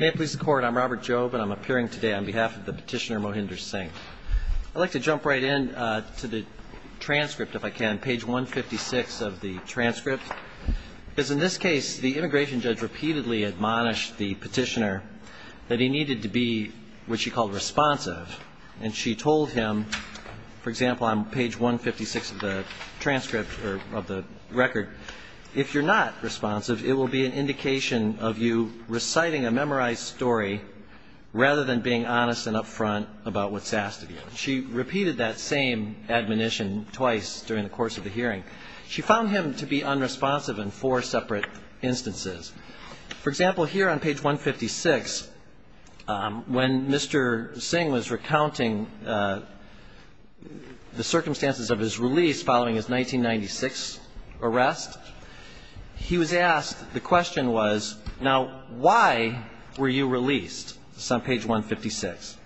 May it please the court, I'm Robert Jobe, and I'm appearing today on behalf of the petitioner Mohinder Singh. I'd like to jump right in to the transcript, if I can, page 156 of the transcript. Because in this case, the immigration judge repeatedly admonished the petitioner that he needed to be what she called responsive, and she told him, for example, on page 156 of the transcript or of the record, if you're not responsive, it will be an indication of you reciting a memorized story rather than being honest and upfront about what's asked of you. She repeated that same admonition twice during the course of the hearing. She found him to be unresponsive in four separate instances. For example, here on page 156, when Mr. Singh was recounting the circumstances of his release following his 1996 arrest, he was asked, the question was, now, why were you released? This is on page 156.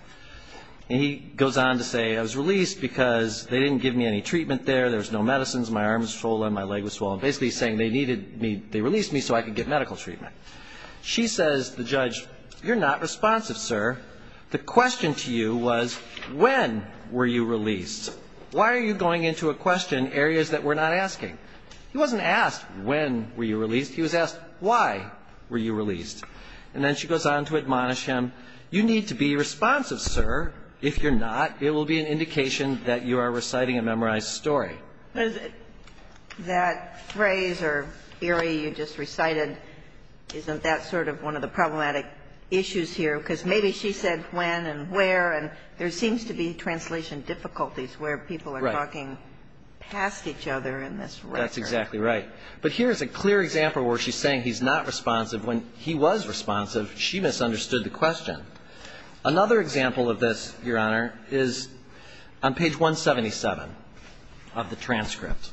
And he goes on to say, I was released because they didn't give me any treatment there, there was no medicines, my arms swollen, my leg was swollen, basically saying they needed me, they released me so I could get medical treatment. She says to the judge, you're not responsive, sir. The question to you was, when were you released? Why are you going into a question in areas that we're not asking? He wasn't asked, when were you released? He was asked, why were you released? And then she goes on to admonish him, you need to be responsive, sir. If you're not, it will be an indication that you are reciting a memorized story. That phrase or area you just recited, isn't that sort of one of the problematic issues here? Because maybe she said when and where, and there seems to be translation difficulties where people are talking past each other in this record. Right. That's exactly right. But here is a clear example where she's saying he's not responsive. When he was responsive, she misunderstood the question. Another example of this, Your Honor, is on page 177 of the transcript.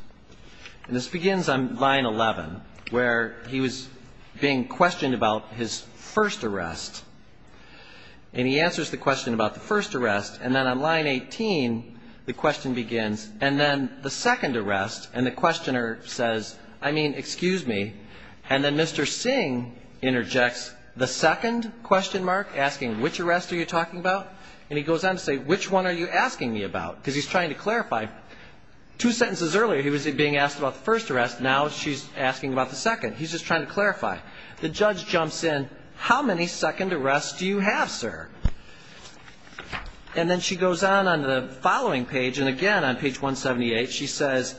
And this begins on line 11, where he was being questioned about his first arrest. And he answers the question about the first arrest, and then on line 18, the question begins, and then the second arrest, and the questioner says, I mean, excuse me. And then Mr. Singh interjects, the second question mark, asking which arrest are you talking about? And he goes on to say, which one are you asking me about? Because he's trying to clarify. Two sentences earlier, he was being asked about the first arrest, now she's asking about the second. He's just trying to clarify. The judge jumps in, how many second arrests do you have, sir? And then she goes on on the following page, and again on page 178, she says,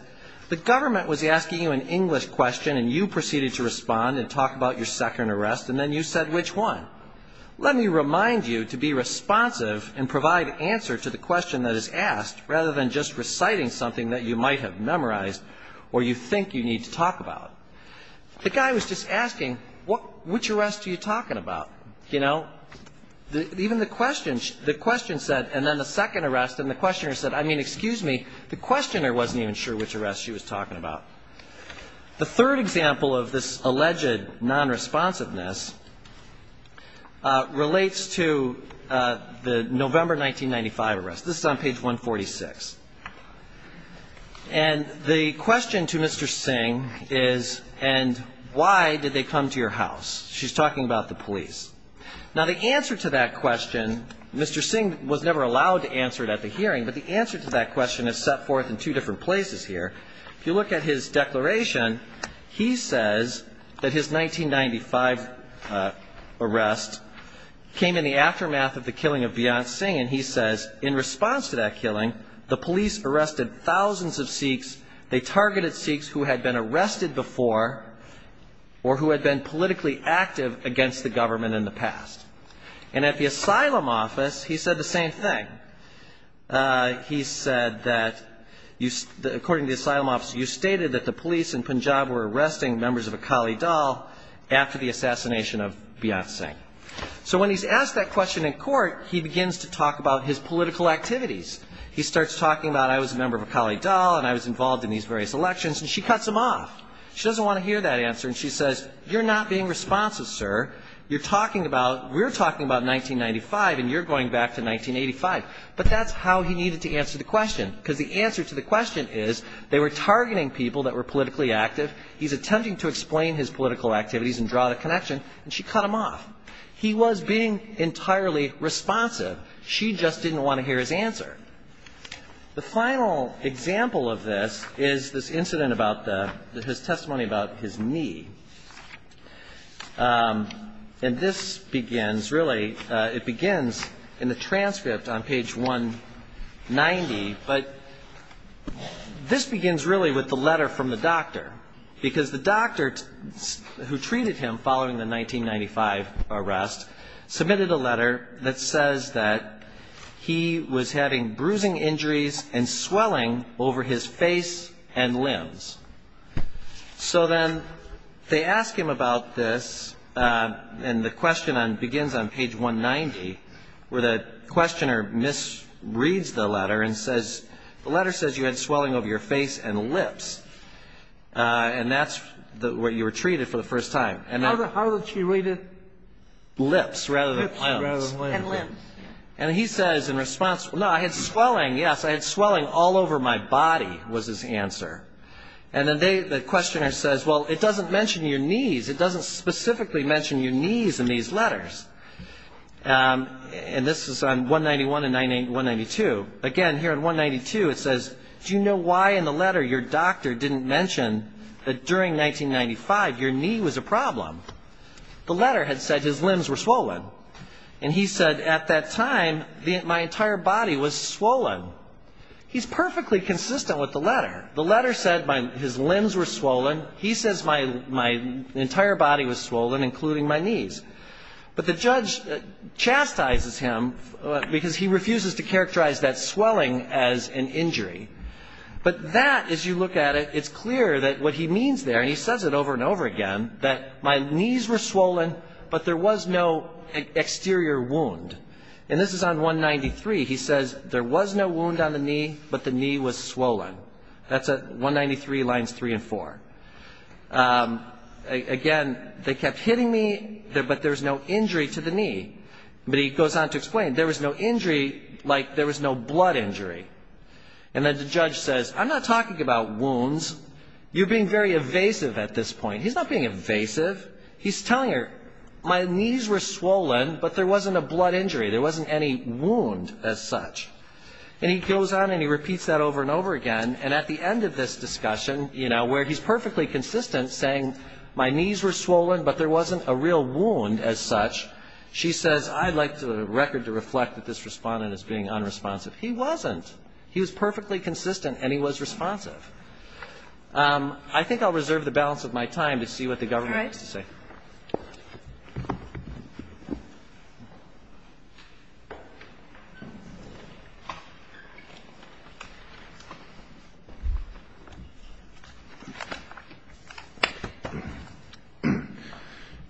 the government was asking you an English question, and you proceeded to respond and talk about your second arrest, and then you said which one. Let me remind you to be responsive and provide answer to the question that is asked, rather than just reciting something that you might have memorized or you think you need to talk about. The guy was just asking, which arrest are you talking about? You know? Even the question, the question said, and then the second arrest, and the questioner said, I mean, excuse me, the questioner wasn't even sure which arrest she was talking about. The third example of this alleged nonresponsiveness relates to the November 1995 arrest. This is on page 146. And the question to Mr. Singh is, and why did they come to your house? She's talking about the police. Now, the answer to that question, Mr. Singh was never allowed to answer it at the hearing, but the answer to that question is set forth in two different places here. If you look at his declaration, he says that his 1995 arrest came in the aftermath of the killing of Beyonce Singh, and he says in response to that killing, the police arrested thousands of Sikhs. They targeted Sikhs who had been arrested before or who had been politically active against the government in the past. And at the asylum office, he said the same thing. He said that you, according to the asylum office, you stated that the police in Punjab were arresting members of Akali Dal after the assassination of Beyonce Singh. So when he's asked that question in court, he begins to talk about his political activities. He starts talking about, I was a member of Akali Dal, and I was involved in these various elections, and she cuts him off. She doesn't want to hear that answer, and she says, you're not being responsive, sir. You're talking about, we're talking about 1995, and you're going back to 1985. But that's how he needed to answer the question, because the answer to the question is they were targeting people that were politically active. He's attempting to explain his political activities and draw the connection, and she cut him off. He was being entirely responsive. She just didn't want to hear his answer. The final example of this is this incident about the, his testimony about his knee. And this begins really, it begins in the transcript on page 190, but this begins really with the letter from the doctor, because the doctor who treated him following the 1995 arrest submitted a statement that he was having bruising injuries and swelling over his face and limbs. So then they ask him about this, and the question begins on page 190, where the questioner misreads the letter and says, the letter says you had swelling over your face and lips, and that's what you were treated for the first time. How did she read it? Lips rather than limbs. And he says in response, no, I had swelling, yes, I had swelling all over my body was his answer. And then the questioner says, well, it doesn't mention your knees. It doesn't specifically mention your knees in these letters. And this is on 191 and 192. Again, here on 192, it says, do you know why in the letter your doctor didn't mention that during 1995 your knee was a problem? The letter had said his limbs were swollen. And he said at that time my entire body was swollen. He's perfectly consistent with the letter. The letter said his limbs were swollen. He says my entire body was swollen, including my knees. But the judge chastises him because he refuses to characterize that swelling as an injury. But that, as you look at it, it's clear that what he means there, and he says it over and over again, that my knees were swollen, but there was no exterior wound. And this is on 193. He says there was no wound on the knee, but the knee was swollen. That's 193 lines 3 and 4. Again, they kept hitting me, but there was no injury to the knee. But he goes on to explain, there was no injury like there was no blood injury. And then the judge says, I'm not talking about wounds. You're being very evasive at this point. He's not being evasive. He's telling her, my knees were swollen, but there wasn't a blood injury. There wasn't any wound as such. And he goes on and he repeats that over and over again. And at the end of this discussion, where he's perfectly consistent saying, my knees were swollen, but there wasn't a real wound as such, she says, I'd like the record to reflect that this respondent is being unresponsive. He wasn't. He was perfectly consistent and he was responsive. I think I'll reserve the balance of my time to see what the government has to say. All right.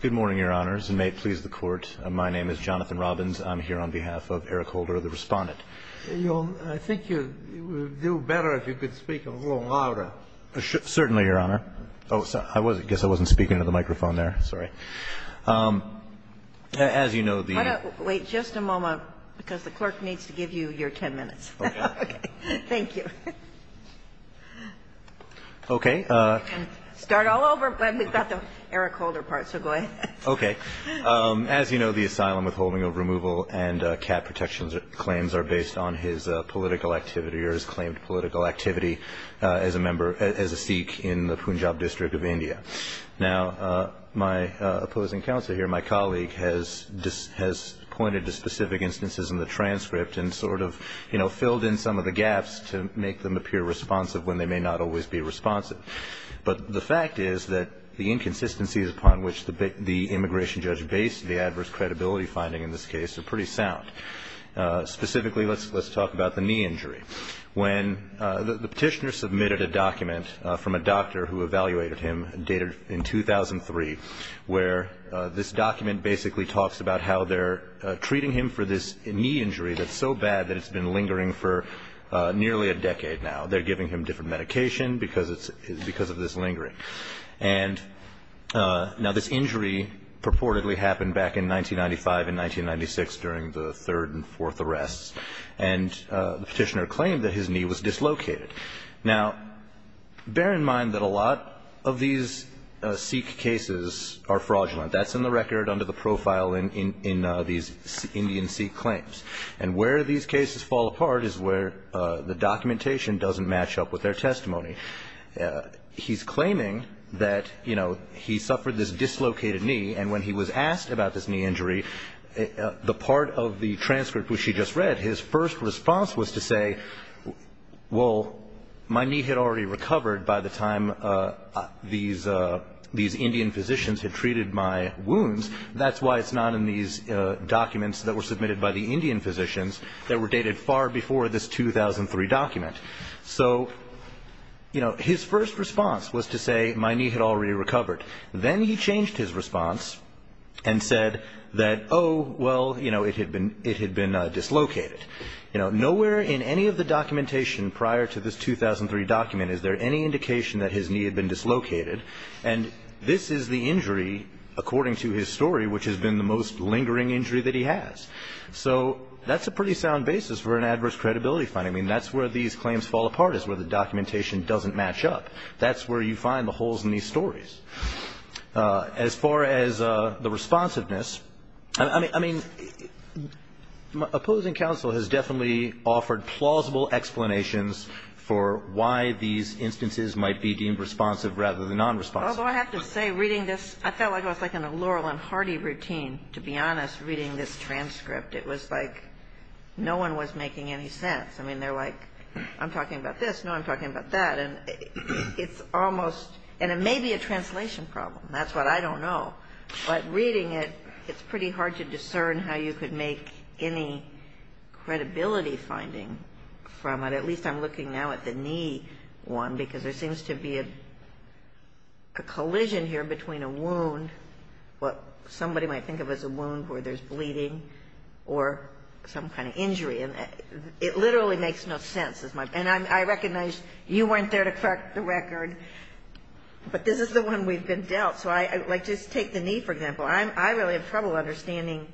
Good morning, Your Honors, and may it please the Court. My name is Jonathan Robbins. I'm here on behalf of Eric Holder, the Respondent. I think you would do better if you could speak a little louder. Certainly, Your Honor. I guess I wasn't speaking into the microphone there. Sorry. As you know, the ---- Why don't we wait just a moment, because the clerk needs to give you your 10 minutes. Okay. Thank you. Okay. Start all over. We've got the Eric Holder part, so go ahead. Okay. As you know, the asylum withholding of removal and cap protections claims are based on his political activity or his claimed political activity as a member, as a Sikh in the Punjab district of India. Now, my opposing counsel here, my colleague, has pointed to specific instances in the transcript and sort of, you know, filled in some of the gaps to make them appear responsive when they may not always be responsive. But the fact is that the inconsistencies upon which the immigration judge based the adverse credibility finding in this case are pretty sound. Specifically, let's talk about the knee injury. When the Petitioner submitted a document from a doctor who evaluated him, dated in 2003, where this document basically talks about how they're treating him for this knee injury that's so bad that it's been lingering for nearly a decade now. They're giving him different medication because of this lingering. And now this injury purportedly happened back in 1995 and 1996 during the third and fourth arrests. And the Petitioner claimed that his knee was dislocated. Now, bear in mind that a lot of these Sikh cases are fraudulent. That's in the record under the profile in these Indian Sikh claims. And where these cases fall apart is where the documentation doesn't match up with their testimony. He's claiming that, you know, he suffered this dislocated knee, and when he was asked about this knee injury, the part of the transcript which he just read, his first response was to say, well, my knee had already recovered by the time these Indian physicians had treated my wounds. That's why it's not in these documents that were submitted by the Indian physicians that were dated far before this 2003 document. So, you know, his first response was to say my knee had already recovered. Then he changed his response and said that, oh, well, you know, it had been dislocated. Nowhere in any of the documentation prior to this 2003 document is there any indication that his knee had been dislocated. And this is the injury, according to his story, which has been the most lingering injury that he has. So that's a pretty sound basis for an adverse credibility finding. I mean, that's where these claims fall apart is where the documentation doesn't match up. That's where you find the holes in these stories. As far as the responsiveness, I mean, opposing counsel has definitely offered plausible explanations for why these instances might be deemed responsive rather than nonresponsive. Although I have to say, reading this, I felt like I was in a Laurel and Hardy routine, to be honest, reading this transcript. It was like no one was making any sense. I mean, they're like, I'm talking about this, no, I'm talking about that. And it's almost, and it may be a translation problem. That's what I don't know. But reading it, it's pretty hard to discern how you could make any credibility finding from it. At least I'm looking now at the knee one, because there seems to be a collision here between a wound, what somebody might think of as a wound where there's bleeding, or some kind of injury. And it literally makes no sense. And I recognize you weren't there to crack the record, but this is the one we've been dealt. So, like, just take the knee, for example. I really have trouble understanding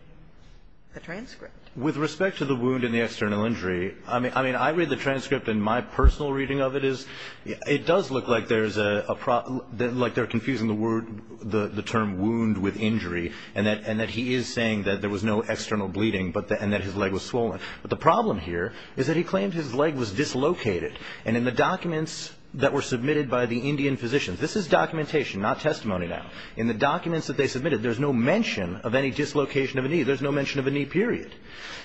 the transcript. With respect to the wound and the external injury, I mean, I read the transcript, and my personal reading of it is it does look like there's a problem, like they're confusing the word, the term wound with injury, and that he is saying that there was no external bleeding and that his leg was swollen. But the problem here is that he claimed his leg was dislocated. And in the documents that were submitted by the Indian physicians, this is documentation, not testimony now. In the documents that they submitted, there's no mention of any dislocation of a knee. There's no mention of a knee, period.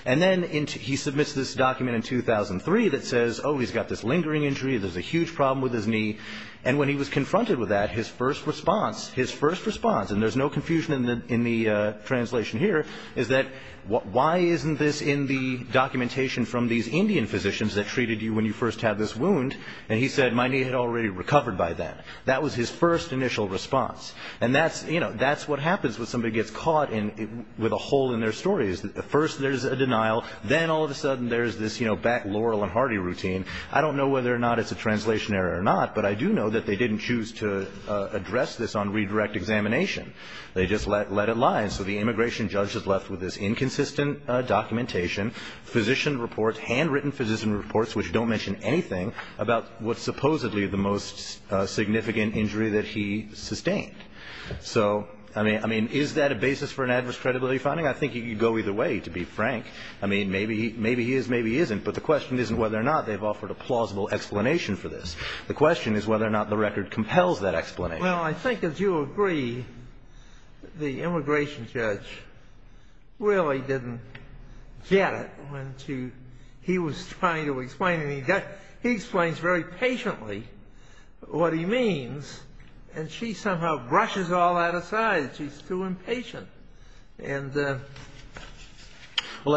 And then he submits this document in 2003 that says, oh, he's got this lingering injury. There's a huge problem with his knee. And when he was confronted with that, his first response, his first response, and there's no confusion in the translation here, is that why isn't this in the documentation from these Indian physicians that treated you when you first had this wound? And he said, my knee had already recovered by then. That was his first initial response. And that's, you know, that's what happens when somebody gets caught with a hole in their story. First there's a denial. Then all of a sudden there's this, you know, back Laurel and Hardy routine. I don't know whether or not it's a translation error or not, but I do know that they didn't choose to address this on redirect examination. They just let it lie. And so the immigration judge is left with this inconsistent documentation, physician reports, handwritten physician reports, which don't mention anything about what's supposedly the most significant injury that he sustained. So, I mean, is that a basis for an adverse credibility finding? I think you could go either way, to be frank. I mean, maybe he is, maybe he isn't. But the question isn't whether or not they've offered a plausible explanation for this. The question is whether or not the record compels that explanation. Well, I think, as you agree, the immigration judge really didn't get it when he was trying to explain it. He explains very patiently what he means. And she somehow brushes all that aside. She's too impatient. Well,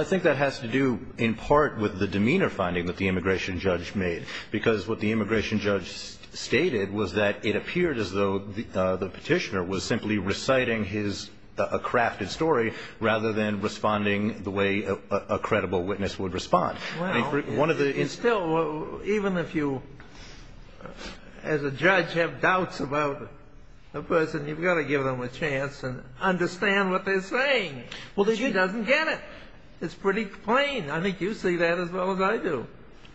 I think that has to do in part with the demeanor finding that the immigration judge made. Because what the immigration judge stated was that it appeared as though the petitioner was simply reciting his crafted story, rather than responding the way a credible witness would respond. Well, it's still, even if you, as a judge, have doubts about a person, you've got to give them a chance and understand what they're saying. Well, she doesn't get it. It's pretty plain. I think you see that as well as I do.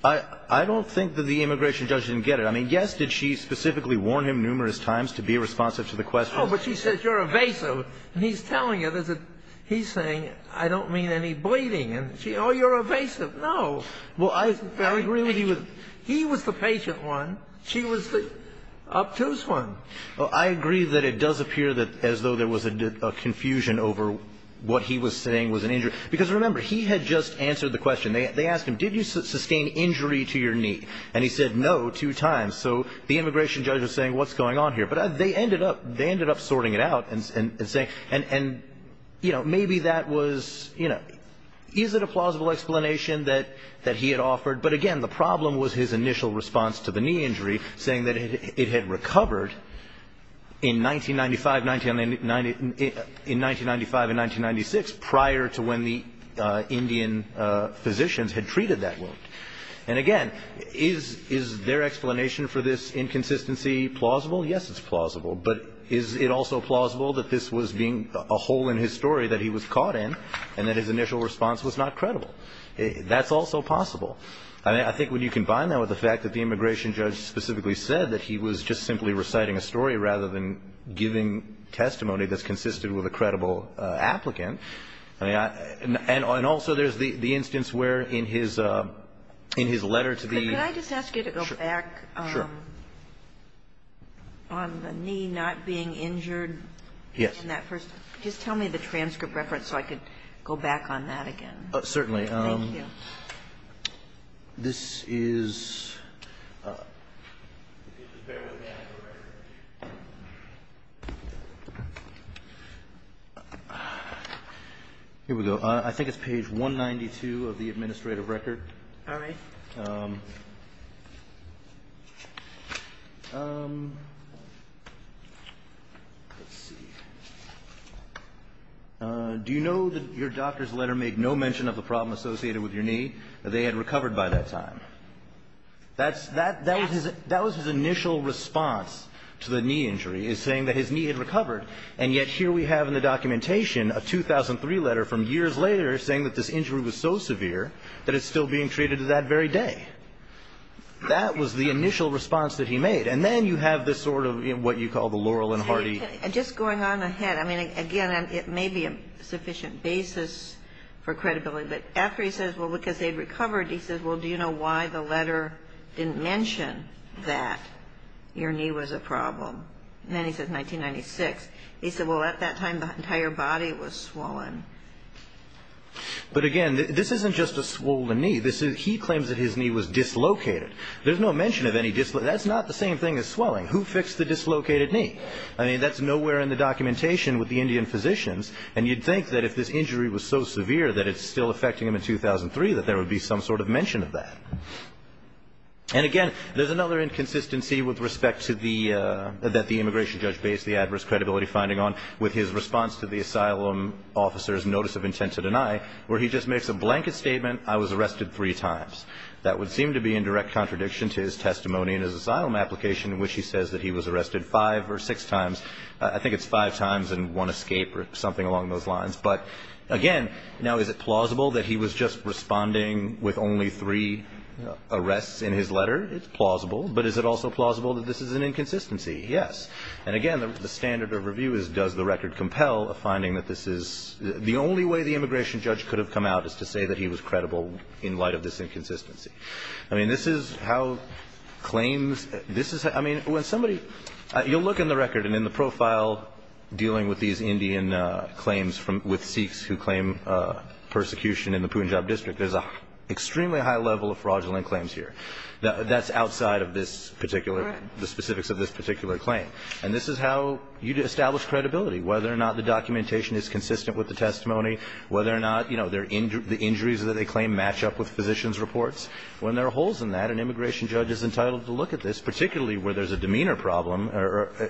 I don't think that the immigration judge didn't get it. I mean, yes, did she specifically warn him numerous times to be responsive to the question. Oh, but she said, you're evasive. And he's telling her, he's saying, I don't mean any bleeding. And she, oh, you're evasive. No. Well, I agree with you. He was the patient one. She was the obtuse one. Well, I agree that it does appear as though there was a confusion over what he was saying was an injury. Because remember, he had just answered the question. They asked him, did you sustain injury to your knee? And he said, no, two times. So the immigration judge was saying, what's going on here? But they ended up sorting it out and saying, and, you know, maybe that was, you know, is it a plausible explanation that he had offered? But, again, the problem was his initial response to the knee injury, saying that it had recovered in 1995 and 1996 prior to when the Indian physicians had treated that wound. And, again, is their explanation for this inconsistency plausible? Yes, it's plausible. But is it also plausible that this was being a hole in his story that he was caught in and that his initial response was not credible? That's also possible. I think when you combine that with the fact that the immigration judge specifically said that he was just simply reciting a story rather than giving testimony that's consisted with a credible applicant. And also there's the instance where in his letter to the ---- Could I just ask you to go back on the knee not being injured? Yes. Just tell me the transcript reference so I could go back on that again. Certainly. Thank you. This is ---- Here we go. I think it's page 192 of the administrative record. All right. Let's see. Do you know that your doctor's letter made no mention of the problem associated with your knee, that they had recovered by that time? That was his initial response to the knee injury, is saying that his knee had recovered. And yet here we have in the documentation a 2003 letter from years later saying that this injury was so severe that it's still being treated to that very day. That was the initial response that he made. And then you have this sort of what you call the Laurel and Hardy ---- Just going on ahead. I mean, again, it may be a sufficient basis for credibility. But after he says, well, because they'd recovered, he says, well, do you know why the letter didn't mention that your knee was a problem? And then he says 1996. He said, well, at that time the entire body was swollen. But, again, this isn't just a swollen knee. He claims that his knee was dislocated. There's no mention of any dislocation. That's not the same thing as swelling. Who fixed the dislocated knee? I mean, that's nowhere in the documentation with the Indian physicians. And you'd think that if this injury was so severe that it's still affecting him in 2003, that there would be some sort of mention of that. And, again, there's another inconsistency with respect to the ---- that the immigration judge based the adverse credibility finding on with his response to the asylum officer's notice of intent to deny, where he just makes a blanket statement, I was arrested three times. That would seem to be in direct contradiction to his testimony in his asylum application in which he says that he was arrested five or six times. I think it's five times and one escape or something along those lines. But, again, now is it plausible that he was just responding with only three arrests in his letter? It's plausible. But is it also plausible that this is an inconsistency? Yes. And, again, the standard of review is does the record compel a finding that this is ---- the only way the immigration judge could have come out is to say that he was credible in light of this inconsistency. I mean, this is how claims ---- this is ---- I mean, when somebody ---- you'll look in the record and in the profile dealing with these Indian claims from ---- with Sikhs who claim persecution in the Punjab district, there's an extremely high level of fraudulent claims here. That's outside of this particular ---- Correct. The specifics of this particular claim. And this is how you establish credibility, whether or not the documentation is consistent with the testimony, whether or not, you know, the injuries that they claim match up with physicians' reports. When there are holes in that, an immigration judge is entitled to look at this, particularly where there's a demeanor problem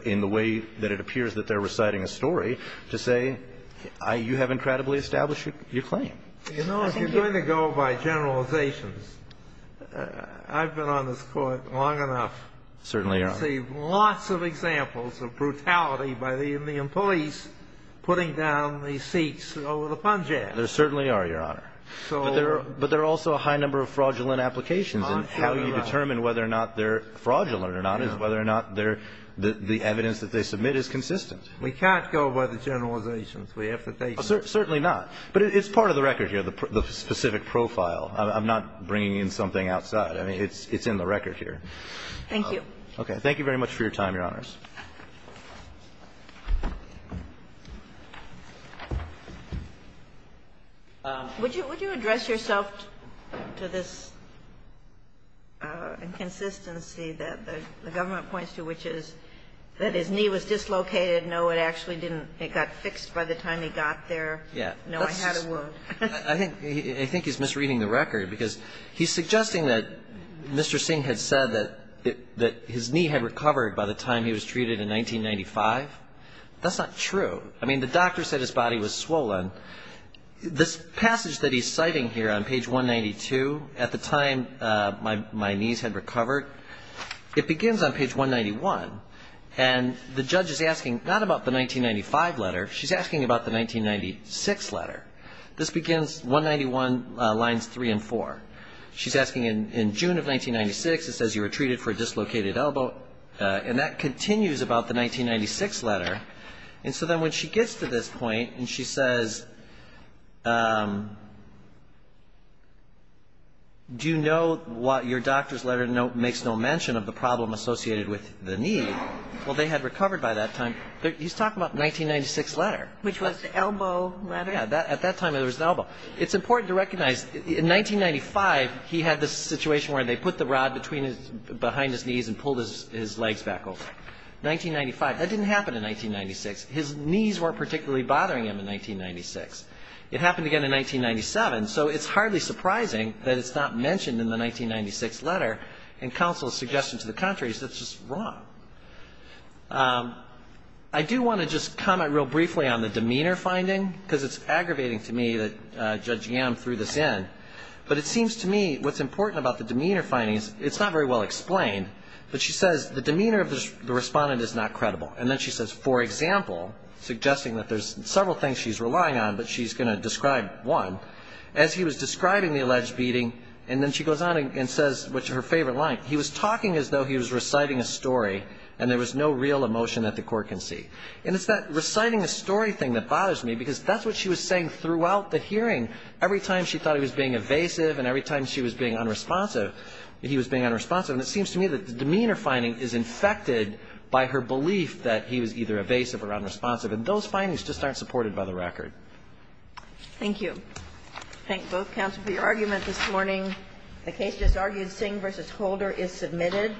in the way that it appears that they're reciting a story, to say, you have incredibly established your claim. You know, if you're going to go by generalizations, I've been on this Court long enough. Certainly, Your Honor. To see lots of examples of brutality by the Indian police putting down the Sikhs over the Punjab. There certainly are, Your Honor. But there are also a high number of fraudulent applications. And how you determine whether or not they're fraudulent or not is whether or not they're the evidence that they submit is consistent. We can't go by the generalizations. We have to take them. Certainly not. But it's part of the record here, the specific profile. I'm not bringing in something outside. I mean, it's in the record here. Thank you. Thank you very much for your time, Your Honors. Would you address yourself to this inconsistency that the government points to, which is that his knee was dislocated? No, it actually didn't. It got fixed by the time he got there. Yeah. No, I had a wound. I think he's misreading the record, because he's suggesting that Mr. Singh had said that his knee had recovered by the time he was treated in 1995. That's not true. I mean, the doctor said his body was swollen. This passage that he's citing here on page 192, at the time my knees had recovered, it begins on page 191. And the judge is asking not about the 1995 letter. She's asking about the 1996 letter. This begins 191 lines 3 and 4. She's asking, in June of 1996, it says you were treated for a dislocated elbow. And that continues about the 1996 letter. And so then when she gets to this point and she says, do you know what your doctor's letter makes no mention of the problem associated with the knee? Well, they had recovered by that time. He's talking about the 1996 letter. Which was the elbow letter? Yeah. At that time, there was an elbow. It's important to recognize, in 1995, he had this situation where they put the rod behind his knees and pulled his legs back over. 1995. That didn't happen in 1996. His knees weren't particularly bothering him in 1996. It happened again in 1997. So it's hardly surprising that it's not mentioned in the 1996 letter in counsel's suggestion to the contrary. It's just wrong. I do want to just comment real briefly on the demeanor finding, because it's aggravating to me that Judge Yam threw this in. But it seems to me what's important about the demeanor finding is it's not very well explained. But she says the demeanor of the respondent is not credible. And then she says, for example, suggesting that there's several things she's relying on, but she's going to describe one. As he was describing the alleged beating, and then she goes on and says her favorite line, he was talking as though he was reciting a story and there was no real emotion that the court can see. And it's that reciting a story thing that bothers me, because that's what she was saying throughout the hearing. Every time she thought he was being evasive and every time she was being unresponsive, he was being unresponsive. And it seems to me that the demeanor finding is infected by her belief that he was either evasive or unresponsive. And those findings just aren't supported by the record. Thank you. I thank both counsel for your argument this morning. The case just argued Sing v. Holder is submitted.